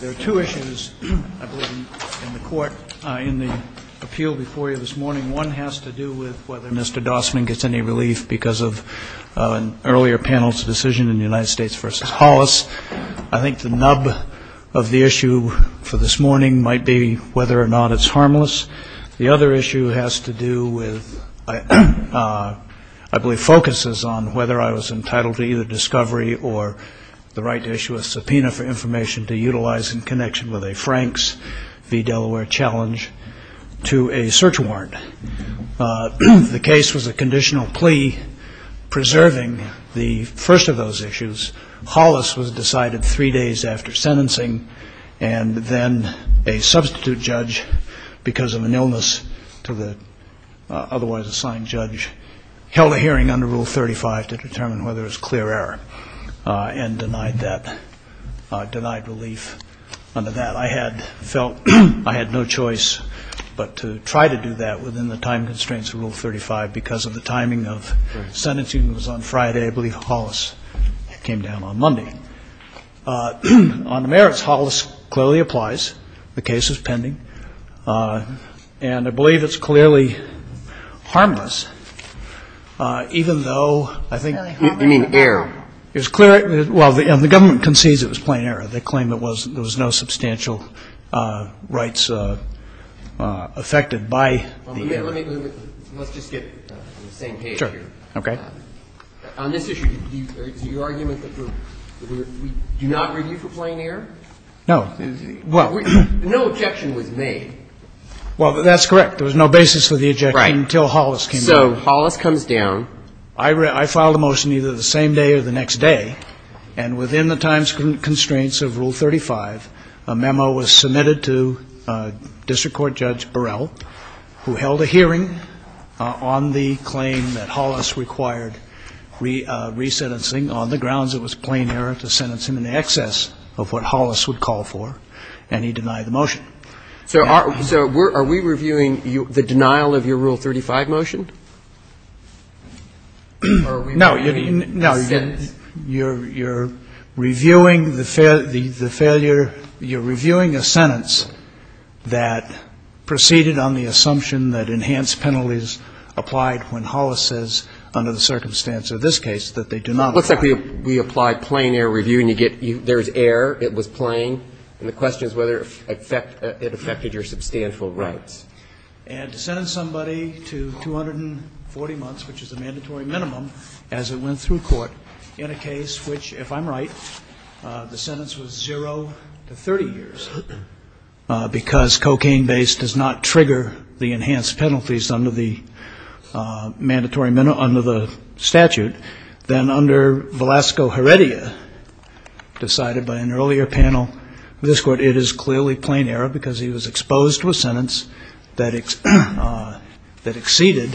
There are two issues, I believe, in the court, in the appeal before you this morning. One has to do with whether Mr. Dossman gets any relief because of an earlier panel's decision in the United States v. Hollis. I think the nub of the issue for this morning might be whether or not it's harmless. The other issue has to do with, I believe, focuses on whether I was entitled to either discovery or the right to issue a subpoena for information to utilize in connection with a Franks v. Delaware challenge to a search warrant. The case was a conditional plea preserving the first of those issues. Hollis was decided three days after sentencing, and then a substitute judge, because of an illness to the otherwise assigned judge, held a hearing under Rule 35 to determine whether it was clear error and denied that, denied relief under that. I had felt I had no choice but to try to do that within the time constraints of Rule 35 because of the timing of sentencing. It was on Friday. I believe Hollis came down on Monday. On the merits, Hollis clearly applies. The case is pending. And I believe it's clearly harmless, even though I think the government concedes it was plain error. They claim there was no substantial rights affected by the error. Let's just get on the same page here. Sure. Okay. On this issue, is your argument that we do not review for plain error? No. No objection was made. Well, that's correct. There was no basis for the objection until Hollis came down. Right. So Hollis comes down. I filed a motion either the same day or the next day, and within the time constraints of Rule 35, a memo was submitted to District Court Judge Burrell, who held a hearing on the claim that Hollis required resentencing on the grounds it was plain error to sentence him in excess of what Hollis would call for, and he denied the motion. So are we reviewing the denial of your Rule 35 motion? No. You're reviewing the failure you're reviewing a sentence that proceeded on the assumption that enhanced penalties applied when Hollis says, under the circumstance of this case, that they do not apply. It looks like we applied plain error review, and you get there's error, it was plain. And the question is whether it affected your substantial rights. And to sentence somebody to 240 months, which is the mandatory minimum, as it went through court in a case which, if I'm right, the sentence was zero to 30 years, because cocaine-based does not trigger the enhanced penalties under the mandatory minimum, under the statute, then under Velasco Heredia, decided by an earlier panel of this Court, it is clearly plain error, because he was exposed to a sentence that exceeded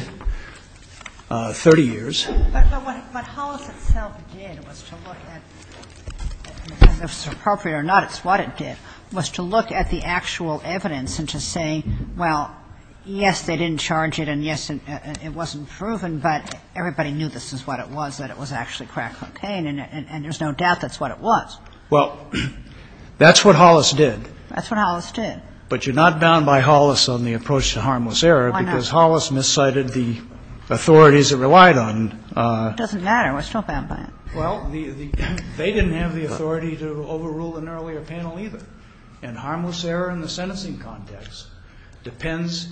30 years. But what Hollis itself did was to look at, and if it's appropriate or not, it's what it did, was to look at the actual evidence and to say, well, yes, they didn't charge it, and yes, it wasn't proven, but everybody knew this is what it was, that it was actually crack cocaine, and there's no doubt that's what it was. Well, that's what Hollis did. That's what Hollis did. But you're not bound by Hollis on the approach to harmless error, because Hollis miscited the authorities it relied on. It doesn't matter. We're still bound by it. Well, they didn't have the authority to overrule an earlier panel either. And harmless error in the sentencing context depends,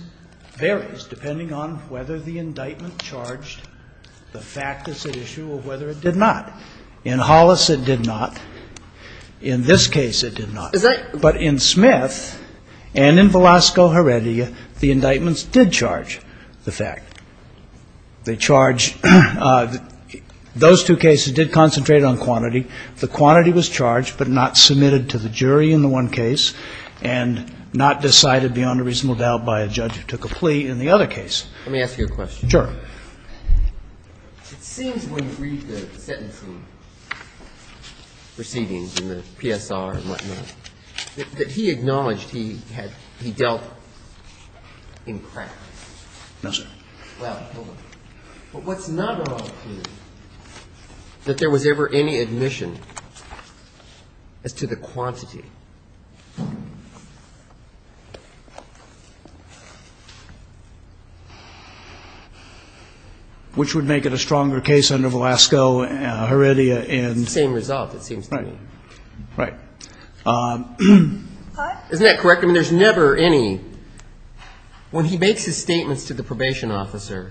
varies depending on whether the indictment charged the fact as at issue or whether it did not. In Hollis, it did not. In this case, it did not. But in Smith and in Velasco Heredia, the indictments did charge the fact. They charged those two cases did concentrate on quantity. The quantity was charged, but not submitted to the jury in the one case, and not decided beyond a reasonable doubt by a judge who took a plea in the other case. Let me ask you a question. Sure. It seems when you read the sentencing proceedings in the PSR and whatnot, that he acknowledged he had, he dealt in crack. No, sir. Well, hold on. What's not wrong is that there was ever any admission as to the quantity. Which would make it a stronger case under Velasco Heredia in It's the same result, it seems to me. Right. Isn't that correct? I mean, there's never any. When he makes his statements to the probation officer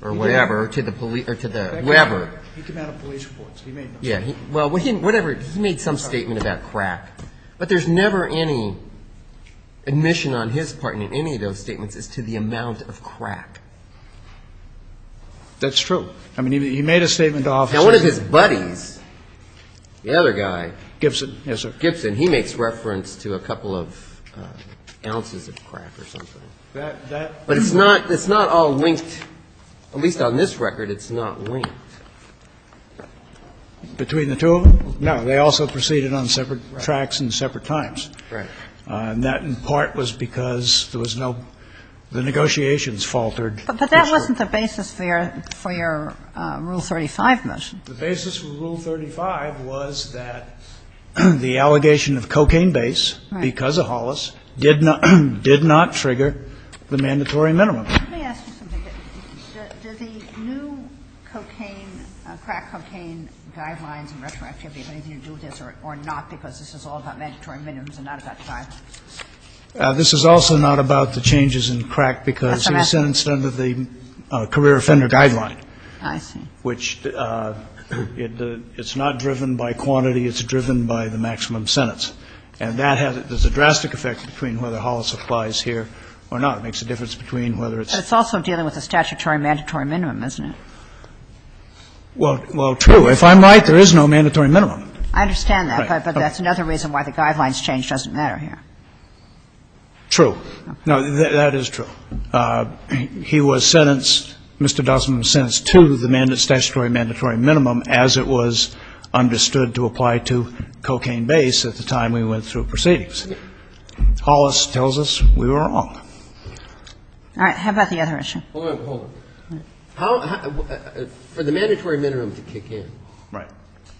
or whatever, to the police or to the whatever. He came out of police reports. He made no statement. Yeah. Well, whatever. He made some statement about crack. But there's never any admission on his part in any of those statements as to the amount of crack. That's true. I mean, he made a statement to officers. Now, one of his buddies, the other guy. Gibson. Yes, sir. Mr. Gibson, he makes reference to a couple of ounces of crack or something. But it's not all linked. At least on this record, it's not linked. Between the two of them? No. They also proceeded on separate tracks and separate times. Right. And that, in part, was because there was no, the negotiations faltered. But that wasn't the basis for your Rule 35 motion. The basis for Rule 35 was that the allegation of cocaine base because of Hollis did not trigger the mandatory minimum. Let me ask you something. Did the new cocaine, crack cocaine guidelines and retroactivity have anything to do with this or not because this is all about mandatory minimums and not about crack? This is also not about the changes in crack because he was sentenced under the career offender guideline. I see. Which it's not driven by quantity. It's driven by the maximum sentence. And that has, there's a drastic effect between whether Hollis applies here or not. It makes a difference between whether it's. But it's also dealing with a statutory mandatory minimum, isn't it? Well, true. If I'm right, there is no mandatory minimum. I understand that. But that's another reason why the guidelines change doesn't matter here. True. No, that is true. He was sentenced, Mr. Dussman was sentenced to the statutory mandatory minimum as it was understood to apply to cocaine base at the time we went through proceedings. Hollis tells us we were wrong. All right. How about the other issue? Hold on. Hold on. For the mandatory minimum to kick in. Right.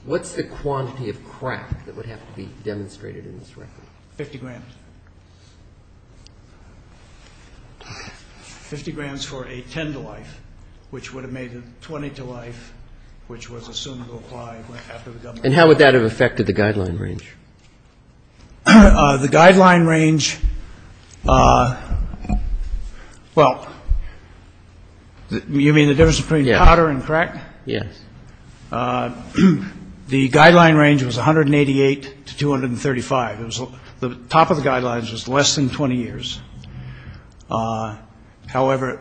What's the quantity of crack that would have to be demonstrated in this record? 50 grams. 50 grams for a 10 to life, which would have made a 20 to life, which was assumed to apply after the government. And how would that have affected the guideline range? The guideline range, well, you mean the difference between powder and crack? Yes. The guideline range was 188 to 235. The top of the guidelines was less than 20 years. However,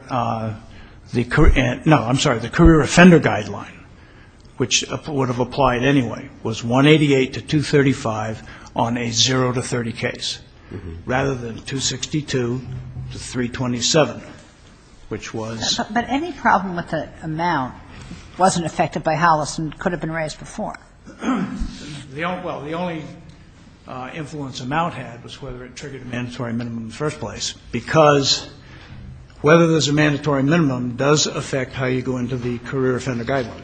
no, I'm sorry, the career offender guideline, which would have applied anyway, was 188 to 235 on a 0 to 30 case rather than 262 to 327, which was. But any problem with the amount wasn't affected by Hollis and could have been raised before. Well, the only influence amount had was whether it triggered a mandatory minimum in the first place, because whether there's a mandatory minimum does affect how you go into the career offender guideline,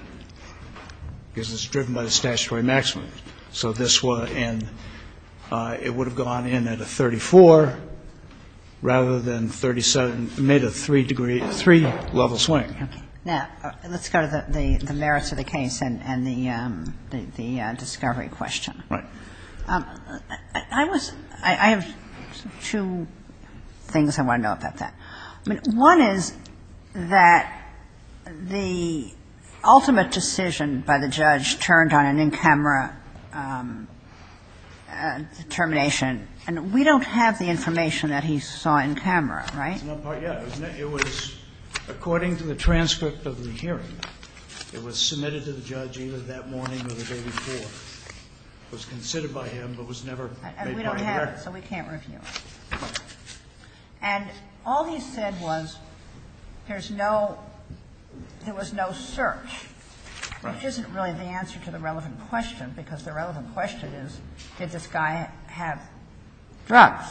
because it's driven by the statutory maximum. So this would have gone in at a 34 rather than 37. It made a three-level swing. Now, let's go to the merits of the case and the discovery question. Right. I have two things I want to know about that. One is that the ultimate decision by the judge turned on an in-camera determination. And we don't have the information that he saw in camera, right? It was according to the transcript of the hearing. It was submitted to the judge either that morning or the day before. It was considered by him, but was never made part of the record. And we don't have it, so we can't review it. And all he said was there's no – there was no search, which isn't really the answer to the relevant question, because the relevant question is did this guy have drugs?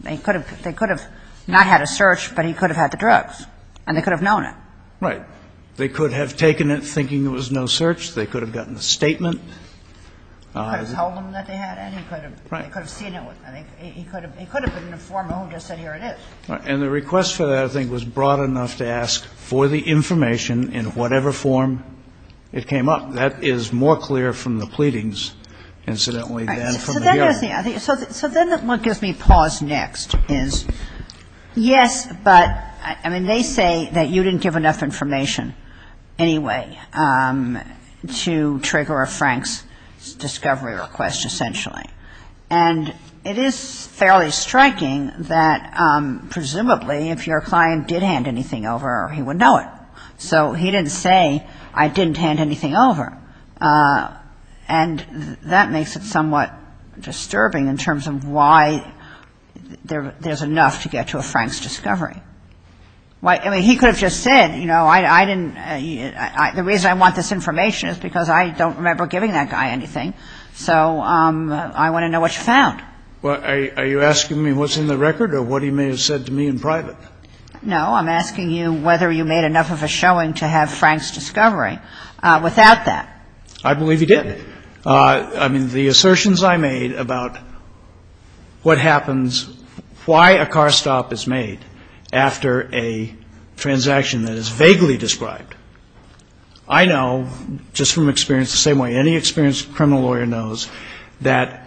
They could have not had a search, but he could have had the drugs. And they could have known it. Right. They could have taken it thinking there was no search. They could have gotten a statement. He could have told them that they had it. He could have seen it. He could have been informed and just said here it is. And the request for that, I think, was broad enough to ask for the information in whatever form it came up. That is more clear from the pleadings, incidentally, than from the hearing. So then what gives me pause next is, yes, but, I mean, they say that you didn't give enough information anyway to trigger a Frank's discovery request, essentially. And it is fairly striking that presumably if your client did hand anything over, he would know it. So he didn't say, I didn't hand anything over. And that makes it somewhat disturbing in terms of why there is enough to get to a Frank's discovery. I mean, he could have just said, you know, I didn't, the reason I want this information is because I don't remember giving that guy anything. So I want to know what you found. Are you asking me what's in the record or what he may have said to me in private? No, I'm asking you whether you made enough of a showing to have Frank's discovery. Without that. I believe he did. I mean, the assertions I made about what happens, why a car stop is made after a transaction that is vaguely described, I know just from experience the same way any experienced criminal lawyer knows that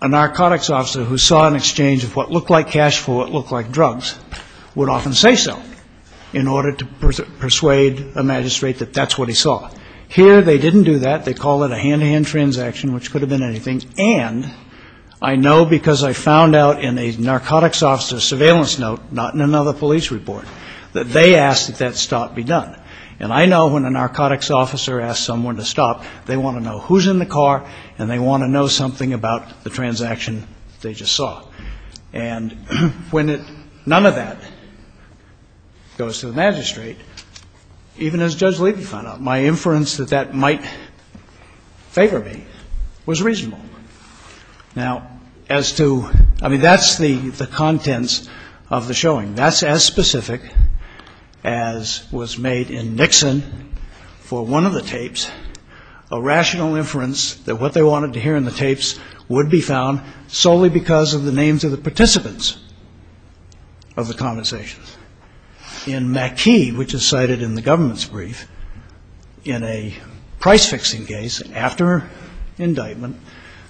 a narcotics officer who saw an exchange of what looked like cash for what looked like drugs would often say so in order to persuade a magistrate that that's what he saw. Here they didn't do that. They call it a hand-to-hand transaction, which could have been anything. And I know because I found out in a narcotics officer's surveillance note, not in another police report, that they asked that that stop be done. And I know when a narcotics officer asks someone to stop, they want to know who's in the car and they want to know something about the transaction they just saw. And when none of that goes to the magistrate, even as Judge Levy found out, my inference that that might favor me was reasonable. Now, as to, I mean, that's the contents of the showing. That's as specific as was made in Nixon for one of the tapes, a rational inference that what they wanted to hear in the tapes would be found solely because of the names of the participants of the conversations. In McKee, which is cited in the government's brief, in a price-fixing case after indictment,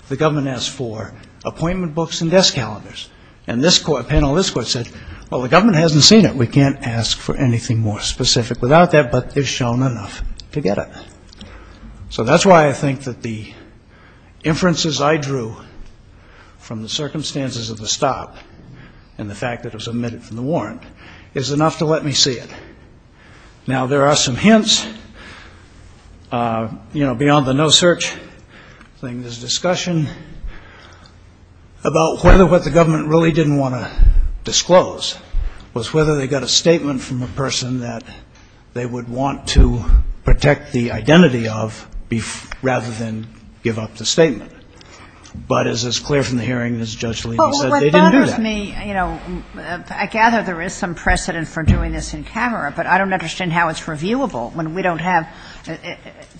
the government asked for appointment books and desk calendars. And this panel, this court said, well, the government hasn't seen it. We can't ask for anything more specific without that, but they've shown enough to get it. So that's why I think that the inferences I drew from the circumstances of the stop and the fact that it was omitted from the warrant is enough to let me see it. Now, there are some hints, you know, beyond the no-search thing, there's discussion about whether what the government really didn't want to disclose was whether they got a statement from a person that they would want to protect the identity of rather than give up the statement. But as is clear from the hearing, as Judge Alito said, they didn't do that. Well, what bothers me, you know, I gather there is some precedent for doing this in camera, but I don't understand how it's reviewable when we don't have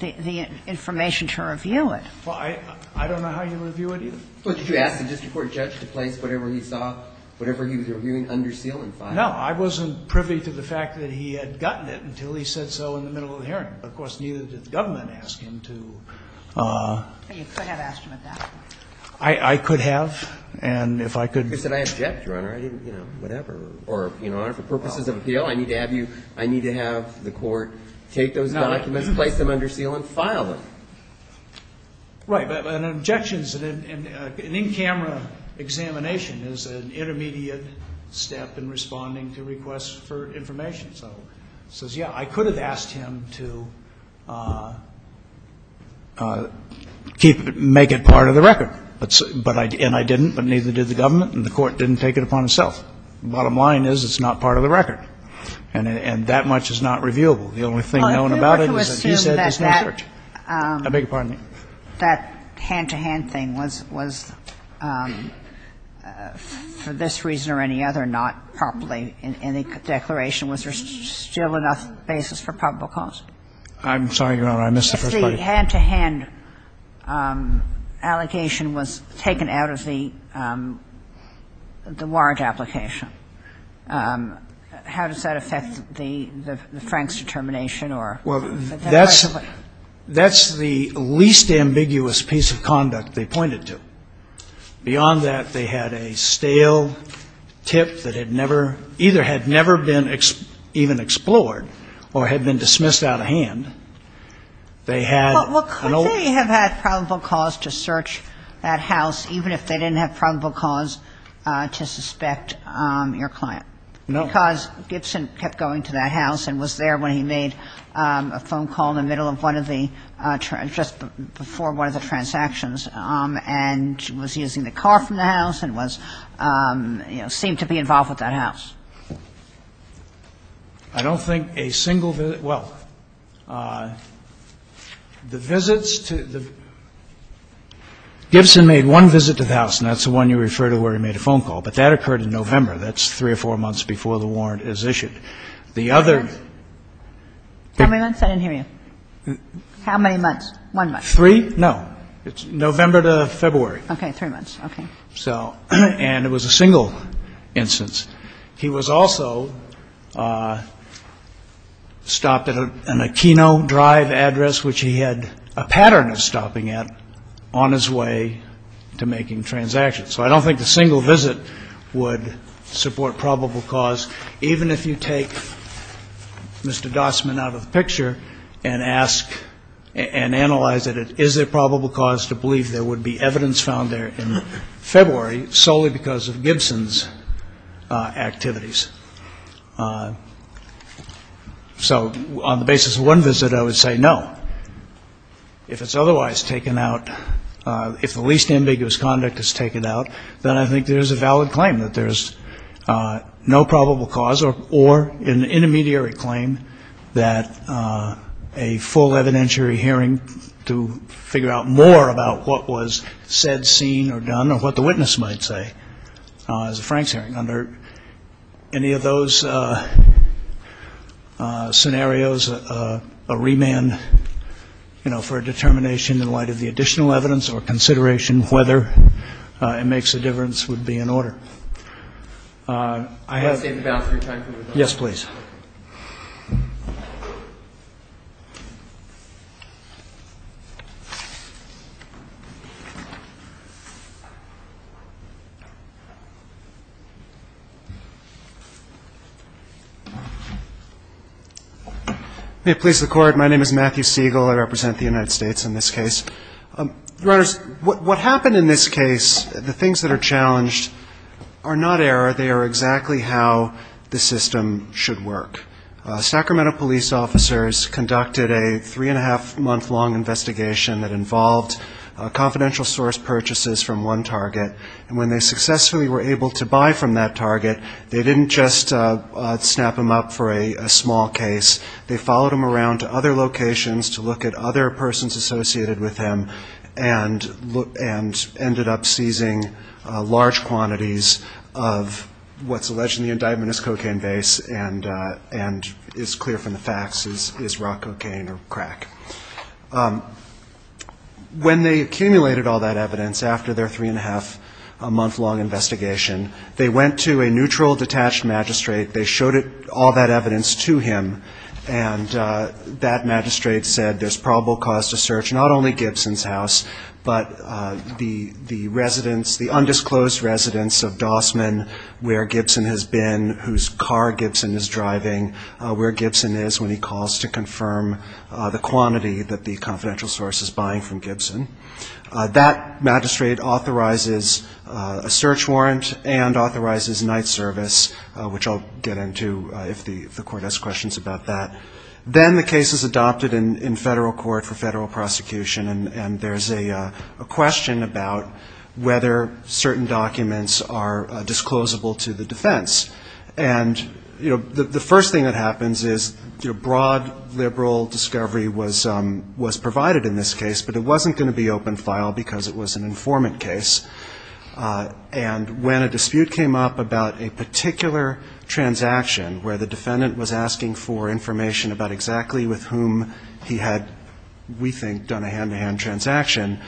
the information to review it. Well, I don't know how you review it either. Well, did you ask the district court judge to place whatever he saw, whatever he was reviewing, under seal and file? No, I wasn't privy to the fact that he had gotten it until he said so in the middle of the hearing. Of course, neither did the government ask him to. You could have asked him at that point. I could have, and if I could. He said, I object, Your Honor, I didn't, you know, whatever. Or, you know, for purposes of appeal, I need to have you, I need to have the court take those documents, place them under seal and file them. Right. But an objection is an in-camera examination is an intermediate step in responding to requests for information. So he says, yeah, I could have asked him to keep it, make it part of the record. And I didn't, but neither did the government, and the court didn't take it upon itself. The bottom line is it's not part of the record. And that much is not reviewable. The only thing known about it is that he said there's no search. I beg your pardon. That hand-to-hand thing was, for this reason or any other, not properly in the declaration. Was there still enough basis for probable cause? I'm sorry, Your Honor. I missed the first part. If the hand-to-hand allegation was taken out of the warrant application, how does that affect the Frank's determination or that part of the claim? Well, that's the least ambiguous piece of conduct they pointed to. Beyond that, they had a stale tip that had never, either had never been even explored or had been dismissed out of hand. They had an old ---- Well, could they have had probable cause to search that house even if they didn't have probable cause to suspect your client? No. Because Gibson kept going to that house and was there when he made a phone call in the middle of one of the ---- just before one of the transactions and was using the car from the house and was, you know, seemed to be involved with that house. I don't think a single visit ---- well, the visits to the ---- Gibson made one visit to the house, and that's the one you refer to where he made a phone call, but that occurred in November. That's three or four months before the warrant is issued. The other ---- How many months? I didn't hear you. How many months? One month. Three? No. It's November to February. Okay. Three months. Okay. So ---- and it was a single instance. He was also stopped at an Aquino Drive address, which he had a pattern of stopping at on his way to making transactions. So I don't think a single visit would support probable cause, even if you take Mr. Gossman out of the picture and ask and analyze it. Is there probable cause to believe there would be evidence found there in February solely because of Gibson's activities? So on the basis of one visit, I would say no. If it's otherwise taken out, if the least ambiguous conduct is taken out, then I think there's a valid claim that there's no probable cause or an intermediary claim that a full evidentiary hearing to figure out more about what was said, seen, or done or what the witness might say is a Franks hearing. Under any of those scenarios, a remand, you know, for a determination in light of the additional evidence or consideration whether it makes a difference would be in order. Can I save the balance of your time, please? Yes, please. May it please the Court. My name is Matthew Siegel. I represent the United States in this case. Your Honors, what happened in this case, the things that are challenged are not error. They are exactly how the system should work. Sacramento police officers conducted a three-and-a-half-month-long investigation that involved confidential source purchases from one target. And when they successfully were able to buy from that target, they didn't just snap them up for a small case. They followed them around to other locations to look at other persons associated with him and ended up seizing large quantities of what's alleged in the indictment as cocaine vase and is clear from the facts is raw cocaine or crack. When they accumulated all that evidence after their three-and-a-half-month-long investigation, they went to a neutral, detached magistrate. They showed all that evidence to him, and that magistrate said there's probable cause to search not only Gibson's house, but the residence, the undisclosed residence of Dossman, where Gibson has been, whose car Gibson is driving, where Gibson is when he calls to confirm the quantity that the confidential source is buying from Gibson. That magistrate authorizes a search warrant and authorizes night service, which I'll get into if the court has questions about that. Then the case is adopted in federal court for federal prosecution, and there's a question about whether certain documents are disclosable to the defense. And, you know, the first thing that happens is, you know, broad liberal discovery was provided in this case, but it wasn't going to be open file because it was an informant case. And when a dispute came up about a particular transaction where the defendant was asking for information about exactly with whom he had, we think, done a hand-to-hand transaction,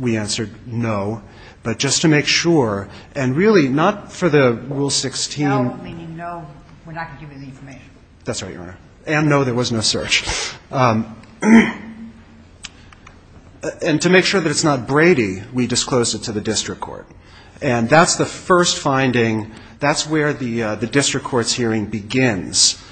we answered no. But just to make sure, and really not for the Rule 16. No, meaning no, we're not going to give you the information. That's right, Your Honor. And no, there was no search. And to make sure that it's not Brady, we disclosed it to the district court. And that's the first finding, that's where the district court's hearing begins,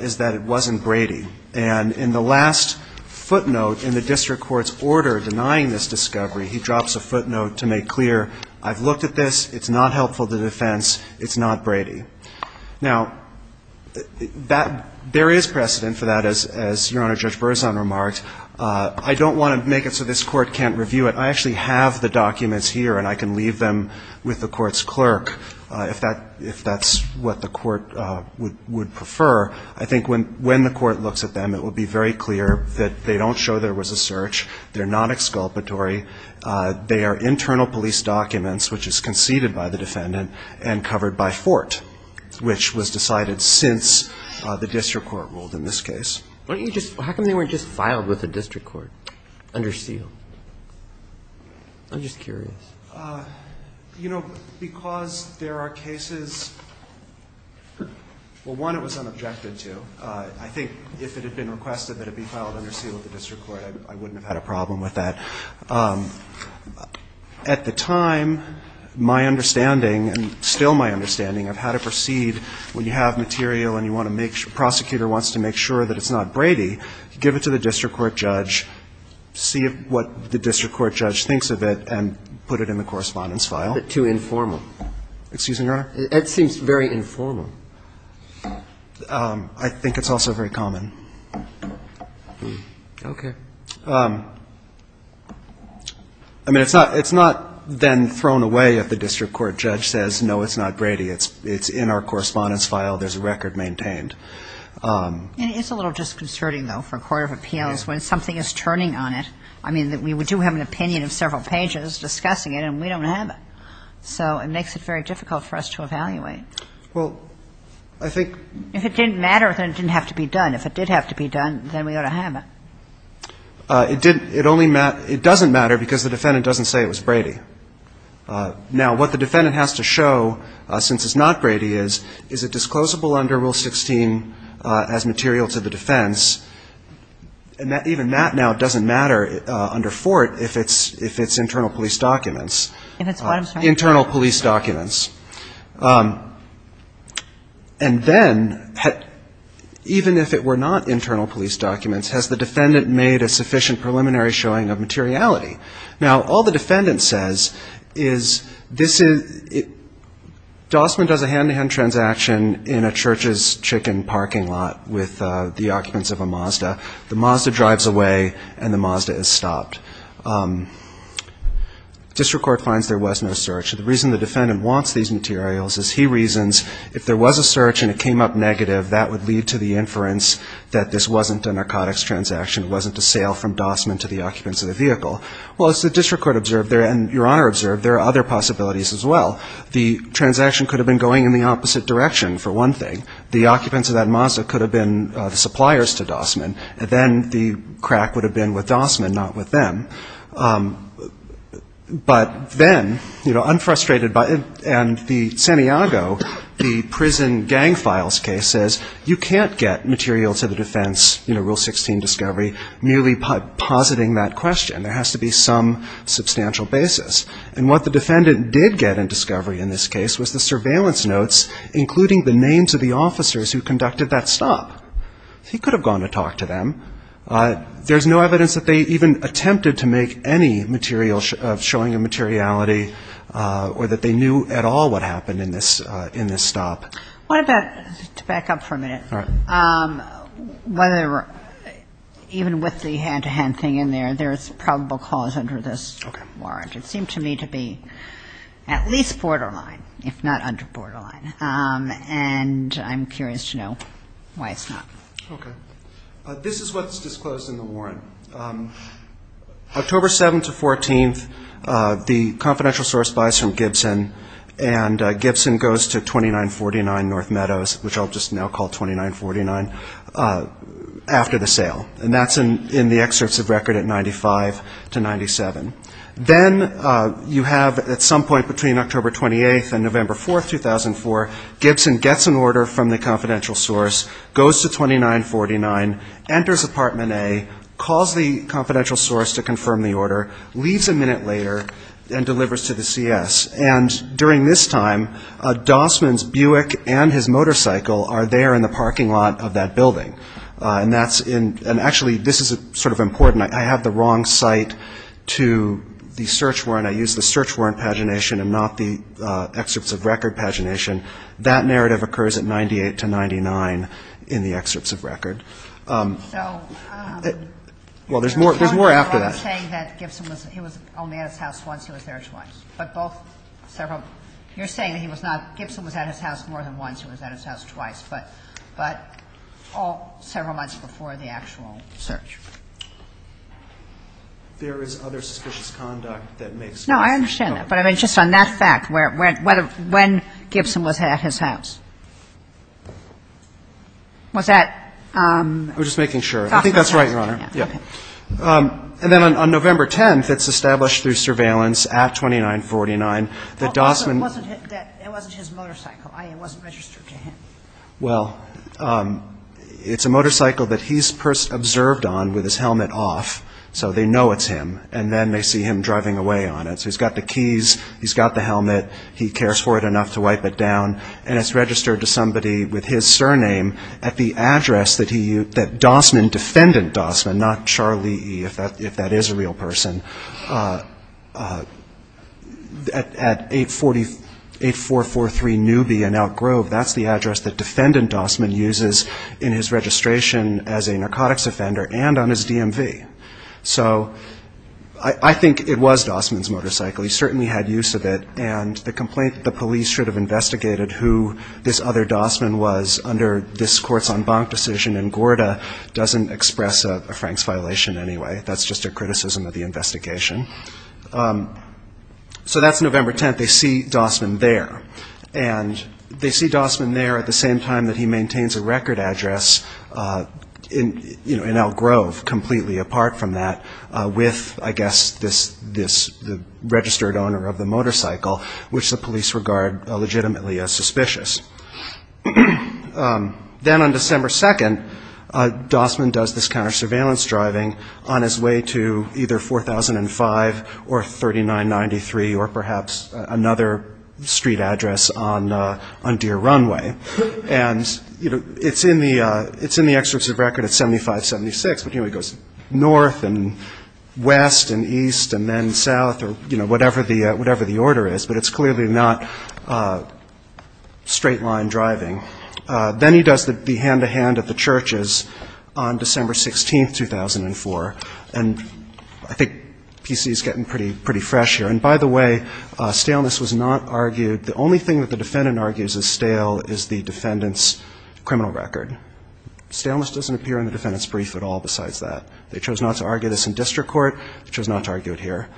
is that it wasn't Brady. And in the last footnote in the district court's order denying this discovery, he drops a footnote to make clear, I've looked at this, it's not helpful to defense, it's not Brady. Now, there is precedent for that, as Your Honor, Judge Berzon remarked. I don't want to make it so this Court can't review it. I actually have the documents here, and I can leave them with the Court's clerk if that's what the Court would prefer. I think when the Court looks at them, it would be very clear that they don't show there was a search, they're not exculpatory, they are internal police documents which is conceded by the defendant and covered by Fort. Which was decided since the district court ruled in this case. Why don't you just – how come they weren't just filed with the district court under seal? I'm just curious. You know, because there are cases – well, one, it was unobjected to. I think if it had been requested that it be filed under seal with the district court, I wouldn't have had a problem with that. At the time, my understanding, and still my understanding of how to proceed when you have material and you want to make – the prosecutor wants to make sure that it's not Brady, give it to the district court judge, see what the district court judge thinks of it, and put it in the correspondence file. But too informal. Excuse me, Your Honor? It seems very informal. I think it's also very common. Okay. I mean, it's not then thrown away if the district court judge says, no, it's not Brady, it's in our correspondence file, there's a record maintained. It is a little disconcerting, though, for a court of appeals when something is turning on it. I mean, we do have an opinion of several pages discussing it, and we don't have it. So it makes it very difficult for us to evaluate. Well, I think – If it didn't matter, then it didn't have to be done. If it did have to be done, then we ought to have it. It didn't – it only – it doesn't matter because the defendant doesn't say it was Brady. Now, what the defendant has to show, since it's not Brady, is, is it disclosable under Rule 16 as material to the defense? And even that now doesn't matter under Fort if it's internal police documents. If it's what I'm saying. Internal police documents. And then, even if it were not internal police documents, has the defendant made a sufficient preliminary showing of materiality? Now, all the defendant says is this is – Dossman does a hand-to-hand transaction in a church's chicken parking lot with the occupants of a Mazda. The Mazda drives away, and the Mazda is stopped. District Court finds there was no search. The reason the defendant wants these materials is he reasons if there was a search and it came up negative, that would lead to the inference that this wasn't a narcotics transaction, it wasn't a sale from Dossman to the occupants of the vehicle. Well, as the District Court observed, and Your Honor observed, there are other possibilities as well. The transaction could have been going in the opposite direction, for one thing. The occupants of that Mazda could have been the suppliers to Dossman, and then the crack would have been with Dossman, not with them. But then, you know, unfrustrated by it, and the Saniago, the prison gang files case, says you can't get material to the defense, you know, Rule 16 discovery, merely positing that question. There has to be some substantial basis. And what the defendant did get in discovery in this case was the surveillance notes, including the names of the officers who conducted that stop. He could have gone to talk to them. There's no evidence that they even attempted to do that. There's no evidence that they attempted to make any material of showing immateriality or that they knew at all what happened in this stop. What about, to back up for a minute, whether even with the hand-to-hand thing in there, there's probable cause under this warrant. Okay. It seemed to me to be at least borderline, if not under borderline. And I'm curious to know why it's not. Okay. This is what's disclosed in the warrant. October 7th to 14th, the confidential source buys from Gibson, and Gibson goes to 2949 North Meadows, which I'll just now call 2949, after the sale. And that's in the excerpts of record at 95 to 97. Then you have at some point between October 28th and November 4th, 2004, Gibson gets an order from the confidential source, goes to 2949, enters And then he goes to 2949. And then he goes to 2949. Calls the confidential source to confirm the order, leaves a minute later and delivers to the CS. And during this time, Dossman's Buick and his motorcycle are there in the parking lot of that building. And that's in, and actually this is sort of important. I have the wrong site to the search warrant. I used the search warrant pagination and not the excerpts of record pagination. That narrative occurs at 98 to 99 in the excerpts of record. Well, there's more after that. You're saying that Gibson was only at his house once. He was there twice. But both several, you're saying that he was not, Gibson was at his house more than once. He was at his house twice. But all several months before the actual search. There is other suspicious conduct that makes. No, I understand that. But just on that fact, when Gibson was at his house. Was that. I'm just making sure. I think that's right, Your Honor. And then on November 10th, it's established through surveillance at 2949 that Dossman. It wasn't his motorcycle. It wasn't registered to him. Well, it's a motorcycle that he's observed on with his helmet off. So they know it's him. And then they see him driving away on it. So he's got the keys. He's got the helmet. He cares for it enough to wipe it down. And it's registered to somebody with his surname at the address that Dossman, defendant Dossman, not Charlie E., if that is a real person, at 8443 Newby and Elk Grove. That's the address that defendant Dossman uses in his registration as a defendant. So I think it was Dossman's motorcycle. He certainly had use of it. And the complaint that the police should have investigated who this other Dossman was under this Courts on Bank decision in Gorda doesn't express a Frank's violation anyway. That's just a criticism of the investigation. So that's November 10th. They see Dossman there. And they see Dossman there at the same time that he maintains a record address in Elk Grove, completely apart from that, with, I guess, this registered owner of the motorcycle, which the police regard legitimately as suspicious. Then on December 2nd, Dossman does this counter-surveillance driving on his way to either 4005 or 3993 or perhaps another street address. And, you know, it's in the excerpts of record at 7576, but, you know, he goes north and west and east and then south or, you know, whatever the order is. But it's clearly not straight-line driving. Then he does the hand-to-hand at the churches on December 16th, 2004. And I think PC's getting pretty fresh here. And, by the way, staleness was not argued. The only thing that the defendant argues is stale is the defendant's criminal record. Staleness doesn't appear in the defendant's brief at all besides that. They chose not to argue this in district court. They chose not to argue it here.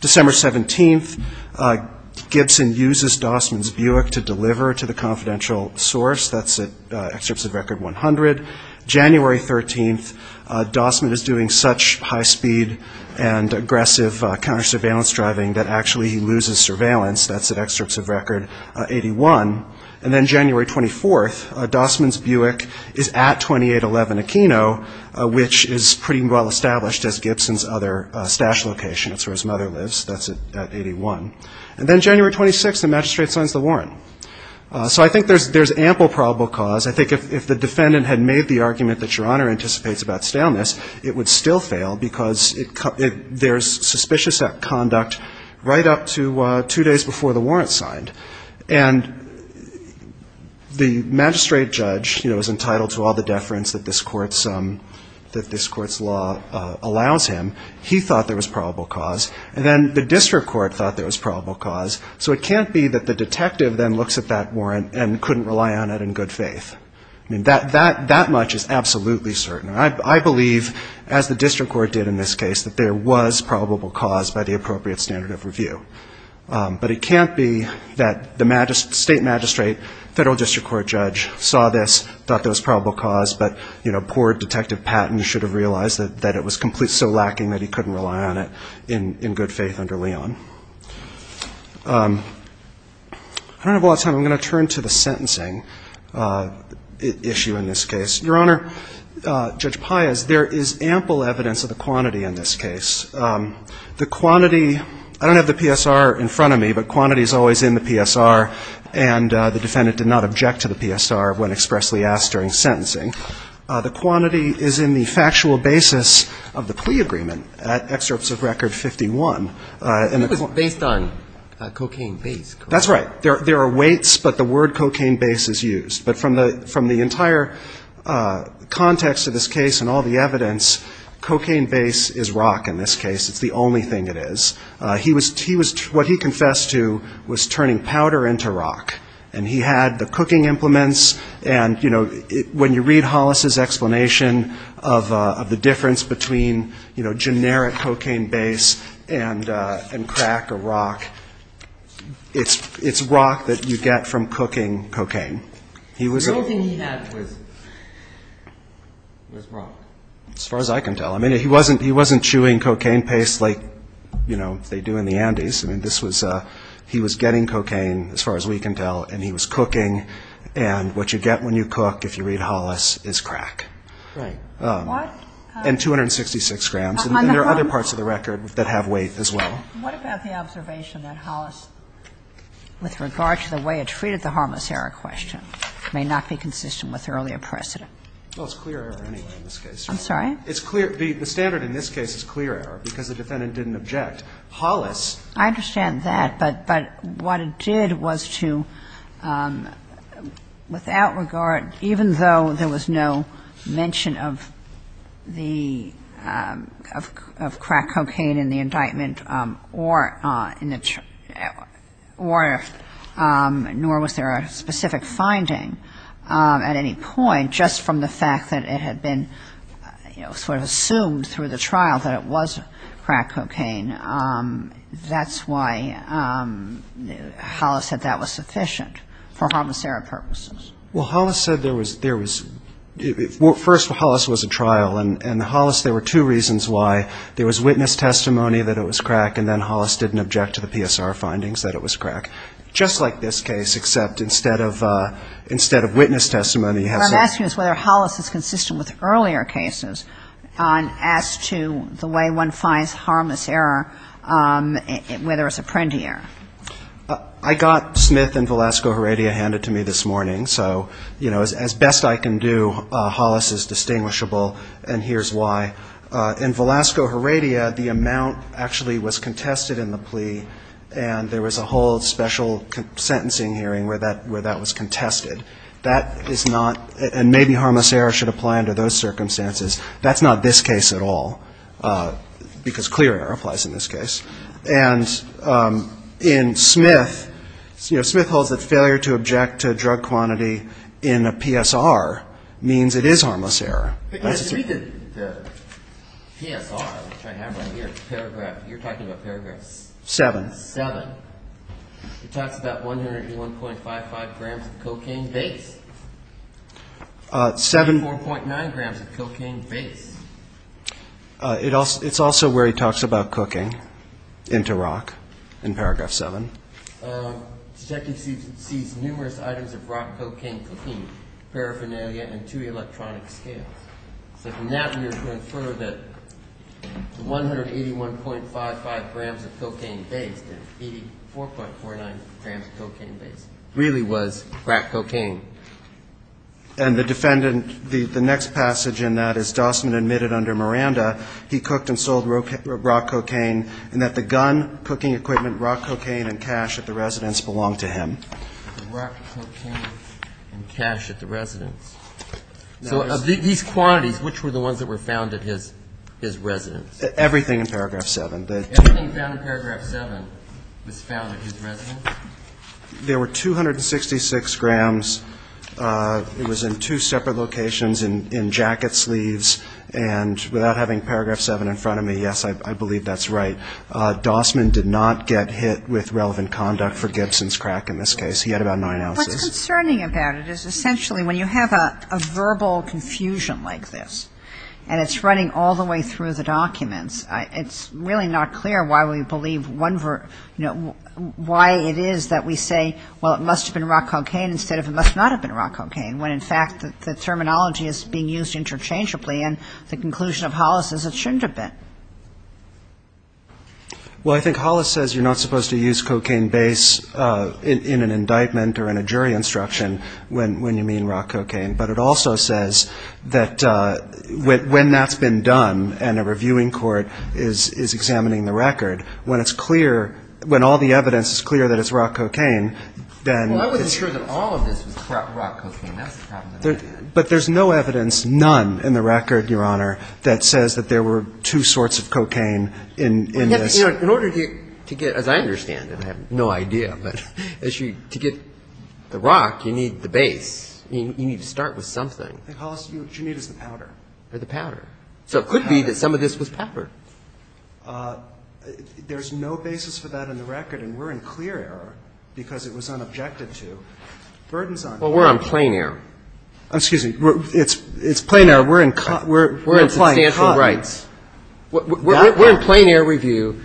December 17th, Gibson uses Dossman's Buick to deliver to the confidential source. That's excerpts of record 100. January 13th, Dossman is doing such high-speed and aggressive counter-surveillance driving that actually he loses surveillance. That's at excerpts of record 81. And then January 24th, Dossman's Buick is at 2811 Aquino, which is pretty well-established as Gibson's other stash location. That's where his mother lives. That's at 81. And then January 26th, the magistrate signs the warrant. So I think there's ample probable cause. I think if the defendant had made the argument that Your Honor anticipates about staleness, it would still fail because there's suspicious conduct right up to two days before the warrant's signed. And the magistrate judge, you know, is entitled to all the deference that this court's law allows him. He thought there was probable cause. And then the district court thought there was probable cause. So it can't be that the detective then looks at that warrant and couldn't rely on it in good faith. I mean, that much is absolutely certain. I believe, as the district court did in this case, that there was probable cause by the appropriate standard of review. But it can't be that the state magistrate, federal district court judge, saw this, thought there was probable cause, but, you know, poor detective Patton should have realized that it was so lacking that he couldn't rely on it in good faith under Leon. I don't have a lot of time. So I'm going to turn to the sentencing issue in this case. Your Honor, Judge Pius, there is ample evidence of the quantity in this case. The quantity, I don't have the PSR in front of me, but quantity is always in the PSR. And the defendant did not object to the PSR when expressly asked during sentencing. The quantity is in the factual basis of the plea agreement at Excerpts of Record 51. It was based on cocaine base, correct? That's right. There are weights, but the word cocaine base is used. But from the entire context of this case and all the evidence, cocaine base is rock in this case. It's the only thing it is. What he confessed to was turning powder into rock. And he had the cooking implements. And, you know, when you read Hollis's explanation of the difference between, you know, generic cocaine base and crack or rock, it's pretty obvious that it's rock that you get from cooking cocaine. The only thing he had was rock. As far as I can tell. I mean, he wasn't chewing cocaine paste like, you know, they do in the Andes. I mean, this was he was getting cocaine, as far as we can tell, and he was cooking. And what you get when you cook, if you read Hollis, is crack. Right. And 266 grams. And there are other parts of the record that have weight as well. And what about the observation that Hollis, with regard to the way it treated the harmless error question, may not be consistent with earlier precedent? Well, it's clear error anyway in this case. I'm sorry? It's clear. The standard in this case is clear error because the defendant didn't object. Hollis. I understand that. But what it did was to, without regard, even though there was no mention of crack cocaine in the indictment, nor was there a specific finding at any point, just from the fact that it had been sort of assumed through the trial that it was crack cocaine. That's why Hollis said that was sufficient for harmless error purposes. Well, Hollis said there was, first, Hollis was a trial. And Hollis, there were two reasons why. There was witness testimony that it was crack, and then Hollis didn't object to the PSR findings that it was crack. Just like this case, except instead of witness testimony. What I'm asking is whether Hollis is consistent with earlier cases as to the way one finds harmless error, whether it's a printy error. I got Smith and Velasco Heredia handed to me this morning. So, you know, as best I can do, Hollis is distinguishable, and here's why. In Velasco Heredia, the amount actually was contested in the plea, and there was a whole special sentencing hearing where that was contested. That is not, and maybe harmless error should apply under those circumstances. That's not this case at all, because clear error applies in this case. And in Smith, you know, Smith holds that failure to object to drug quantity in a PSR means it is harmless error. You speak at the PSR, which I have right here. Paragraph, you're talking about Paragraph 7. It talks about 101.55 grams of cocaine base. 74.9 grams of cocaine base. It's also where he talks about cooking into rock in Paragraph 7. Detective sees numerous items of rock cocaine cooking, paraphernalia, and two electronic scales. So from that we are to infer that the 181.55 grams of cocaine base, and 84.49 grams of cocaine base, really was crack cocaine. And the defendant, the next passage in that is Dossman admitted under Miranda he cooked and sold rock cocaine, and that the gun, cooking equipment, rock cocaine, and cash at the residence belonged to him. So of these quantities, which were the ones that were found at his residence? Everything in Paragraph 7. Everything found in Paragraph 7 was found at his residence? There were 266 grams. It was in two separate locations, in jacket sleeves, and without having Paragraph 7 in front of me, yes, I believe that's right. Dossman did not get hit with relevant conduct for Gibson's crack in this case. He had about nine ounces. What's concerning about it is essentially when you have a verbal confusion like this, and it's running all the way through the documents, it's really not clear why we believe one, you know, why it is that we say, well, it must have been rock cocaine, instead of it must not have been rock cocaine, when in fact the terminology is being used interchangeably, and the conclusion of Hollis is it shouldn't have been. Well, I think Hollis says you're not supposed to use cocaine base in an indictment or in a jury instruction when you mean rock cocaine, but it also says that when that's been done and a reviewing court is examining the record, when it's clear, when all the evidence is clear that it's rock cocaine, then it's clear. Well, I wasn't sure that all of this was rock cocaine. That's the problem. But there's no evidence, none in the record, Your Honor, that says that there were two sorts of cocaine in this. In order to get, as I understand it, I have no idea, but to get the rock, you need the base. You need to start with something. What you need is the powder. Or the powder. So it could be that some of this was powder. There's no basis for that in the record, and we're in clear error because it was unobjected to. Well, we're on plain error. Excuse me. It's plain error. We're in plain error. We're in substantial rights. We're in plain error review.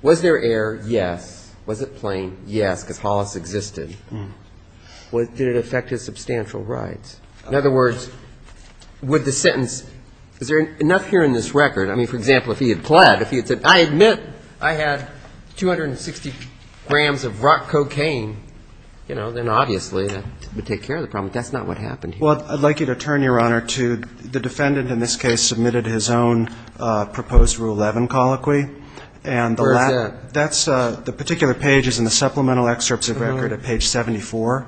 Was there error? Yes. Was it plain? Yes, because Hollis existed. Did it affect his substantial rights? In other words, with the sentence, is there enough here in this record? I mean, for example, if he had pled, if he had said, I admit I had 260 grams of rock cocaine, you know, then obviously that would take care of the problem, but that's not what happened here. Well, I'd like you to turn, Your Honor, to the defendant in this case submitted his own proposed Rule 11 colloquy. Where is that? That's the particular page is in the supplemental excerpts of record at page 74.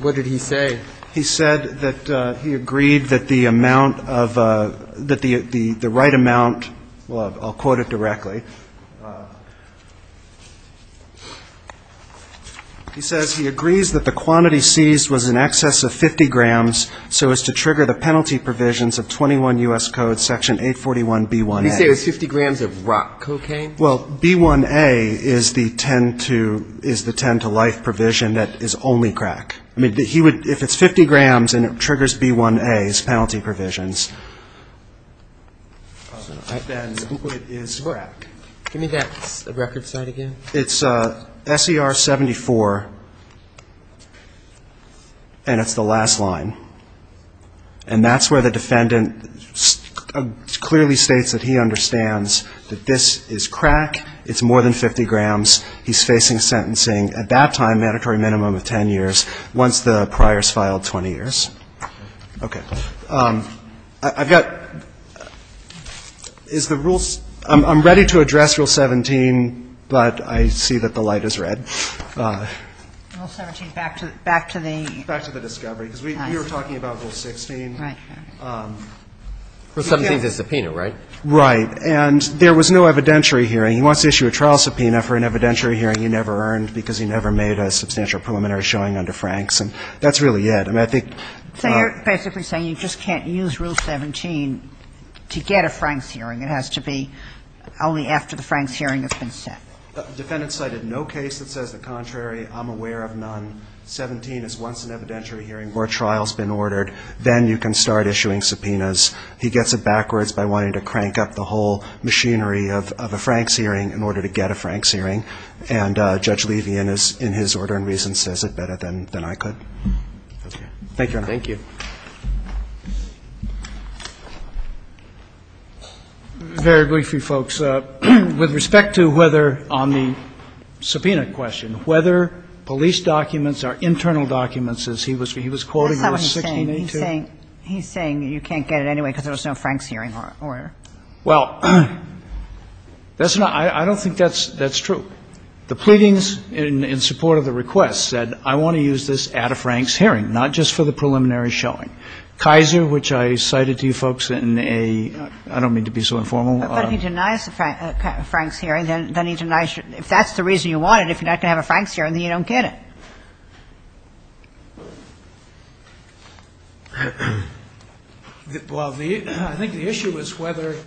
What did he say? He said that he agreed that the amount of, that the right amount, well, I'll quote it directly. He says he agrees that the quantity seized was in excess of 50 grams, so as to trigger the penalty provisions of 21 U.S. Code section 841B1A. He said it was 50 grams of rock cocaine? Well, B1A is the 10-to-life provision that is only crack. I mean, he would, if it's 50 grams and it triggers B1A's penalty provisions, then it is crack. Give me that record site again. It's SER 74, and it's the last line. And that's where the defendant clearly states that he understands that this is crack, it's more than 50 grams, he's facing sentencing at that time, mandatory minimum of 10 years, once the prior is filed, 20 years. Okay. I've got, is the rules, I'm ready to address Rule 17, but I see that the light is red. Rule 17, back to the? Back to the discovery, because we were talking about Rule 16. Right. Rule 17 is a subpoena, right? Right. And there was no evidentiary hearing. He wants to issue a trial subpoena for an evidentiary hearing he never earned because he never made a substantial preliminary showing under Franks. And that's really it. I mean, I think. So you're basically saying you just can't use Rule 17 to get a Franks hearing. It has to be only after the Franks hearing has been set. The defendant cited no case that says the contrary. I'm aware of none. 17 is once an evidentiary hearing where a trial has been ordered. Then you can start issuing subpoenas. He gets it backwards by wanting to crank up the whole machinery of a Franks hearing in order to get a Franks hearing. And Judge Levy, in his order and reason, says it better than I could. Thank you, Your Honor. Thank you. Very briefly, folks. With respect to whether on the subpoena question, whether police documents are internal documents, as he was quoting Rule 16a2. That's not what he's saying. He's saying you can't get it anyway because there was no Franks hearing order. Well, that's not – I don't think that's true. The pleadings in support of the request said, I want to use this at a Franks hearing, not just for the preliminary showing. Kaiser, which I cited to you folks in a – I don't mean to be so informal. But he denies a Franks hearing. Then he denies – if that's the reason you want it, if you're not going to have a Franks hearing, then you don't get it. Well, I think the issue is whether –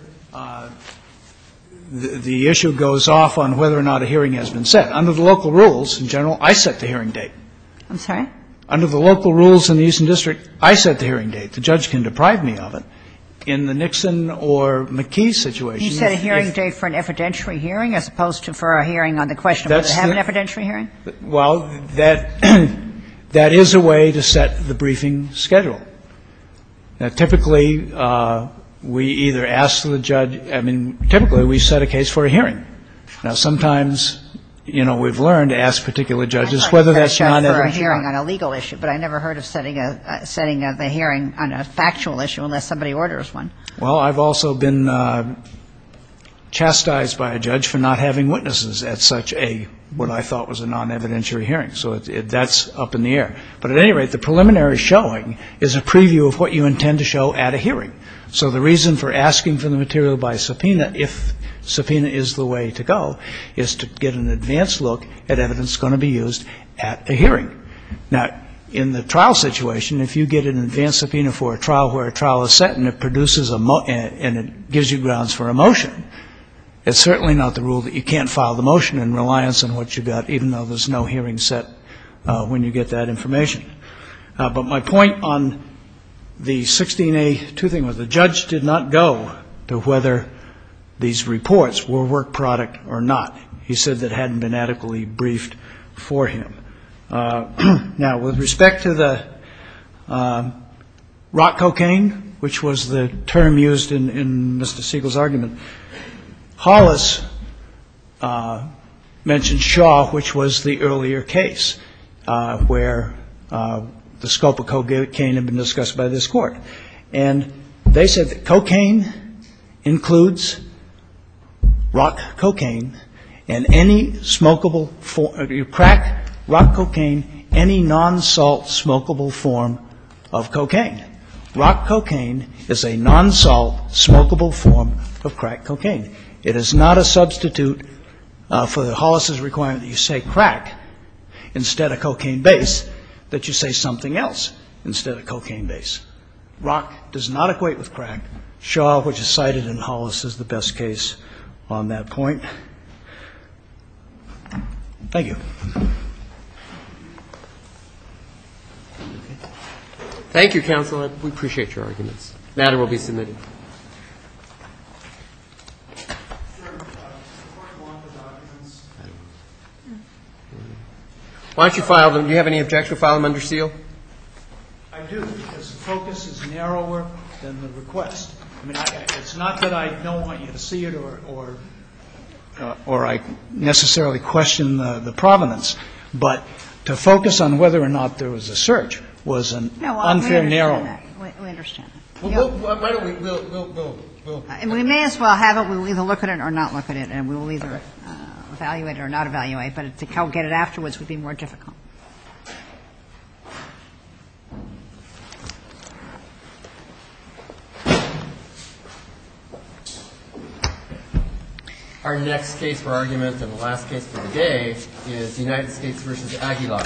the issue goes off on whether or not a hearing has been set. Under the local rules, in general, I set the hearing date. I'm sorry? Under the local rules in the Eastern District, I set the hearing date. The judge can deprive me of it. In the Nixon or McKee situation, if – You set a hearing date for an evidentiary hearing as opposed to for a hearing on the question of whether to have an evidentiary hearing? Well, that – that is a way to set the briefing schedule. Now, typically, we either ask the judge – I mean, typically, we set a case for a hearing. Now, sometimes, you know, we've learned to ask particular judges whether that's non-evidentiary. I set a case for a hearing on a legal issue, but I never heard of setting a hearing on a factual issue unless somebody orders one. Well, I've also been chastised by a judge for not having witnesses at such a – what I thought was a non-evidentiary hearing. So that's up in the air. But at any rate, the preliminary showing is a preview of what you intend to show at a hearing. So the reason for asking for the material by subpoena, if subpoena is the way to go, is to get an advanced look at evidence that's going to be used at a hearing. Now, in the trial situation, if you get an advanced subpoena for a trial where a trial is set and it produces a – and it gives you grounds for a motion, it's certainly not the rule that you can't file the motion in reliance on what you've got, even though there's no hearing set when you get that information. But my point on the 16A2 thing was the judge did not go to whether these reports were work product or not. He said that hadn't been adequately briefed for him. Now, with respect to the rock cocaine, which was the term used in Mr. Siegel's argument, Hollis mentioned Shaw, which was the earlier case where the scope of cocaine had been discussed by this court. And they said that cocaine includes rock cocaine and any smokable – crack, rock cocaine, any non-salt smokable form of cocaine. Rock cocaine is a non-salt smokable form of crack cocaine. It is not a substitute for Hollis's requirement that you say crack instead of cocaine base, that you say something else instead of cocaine base. Rock does not equate with crack. Shaw, which is cited in Hollis, is the best case on that point. Thank you. Thank you, counsel. We appreciate your arguments. The matter will be submitted. Why don't you file them? Do you have any objection to file them under seal? I do, because the focus is narrower than the request. I mean, it's not that I don't want you to see it or I necessarily question the provenance, but to focus on whether or not there was a search was an unfair narrow – No, we understand that. We understand that. Why don't we – we'll – We may as well have it. We'll either look at it or not look at it, and we will either evaluate it or not evaluate it. But to go get it afterwards would be more difficult. Our next case for argument and the last case for today is United States v. Aguilar. Thank you.